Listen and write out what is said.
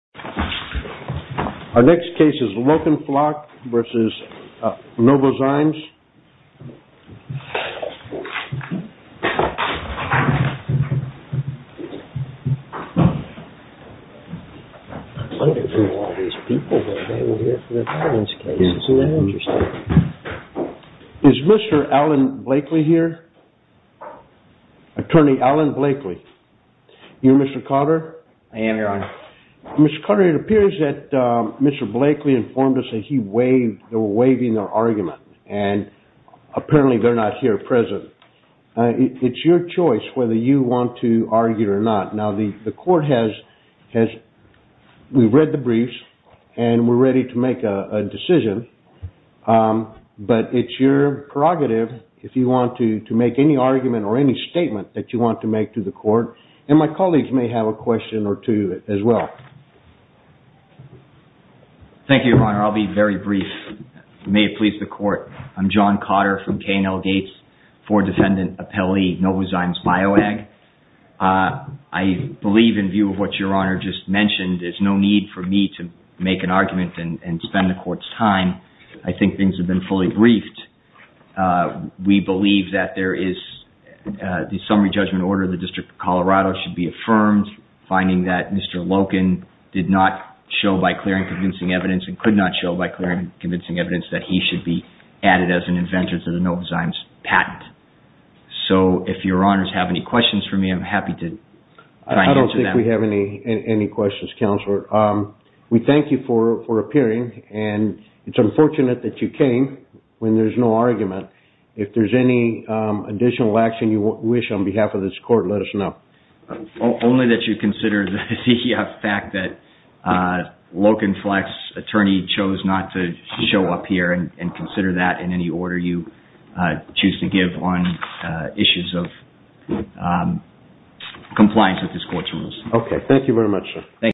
Our next case is Loken-Flack v. Novozymes. Is Mr. Alan Blakely here? Attorney Alan Blakely. You're Mr. Carter? I am, Your Honor. Mr. Carter, it appears that Mr. Blakely informed us that they were waiving their argument and apparently they're not here present. It's your choice whether you want to argue or not. Now, the court has read the briefs and we're ready to make a decision, but it's your prerogative, if you want to, to make any argument or any statement that you want to make to the court. And my colleagues may have a question or two as well. Thank you, Your Honor. I'll be very brief. May it please the court. I'm John Cotter from K&L Gates for Defendant Appellee Novozymes Bioag. I believe in view of what Your Honor just mentioned, there's no need for me to make an argument and spend the court's time. I think things have been fully briefed. We believe that there is the summary judgment order of the District of Colorado should be affirmed, finding that Mr. Loken did not show by clear and convincing evidence and could not show by clear and convincing evidence that he should be added as an inventor to the Novozymes patent. So if Your Honors have any questions for me, I'm happy to try and answer them. I don't think we have any questions, Counselor. We thank you for appearing, and it's unfortunate that you came when there's no argument. If there's any additional action you wish on behalf of this court, let us know. Only that you consider the fact that Loken Fleck's attorney chose not to show up here and consider that in any order you choose to give on issues of compliance with this court's rules.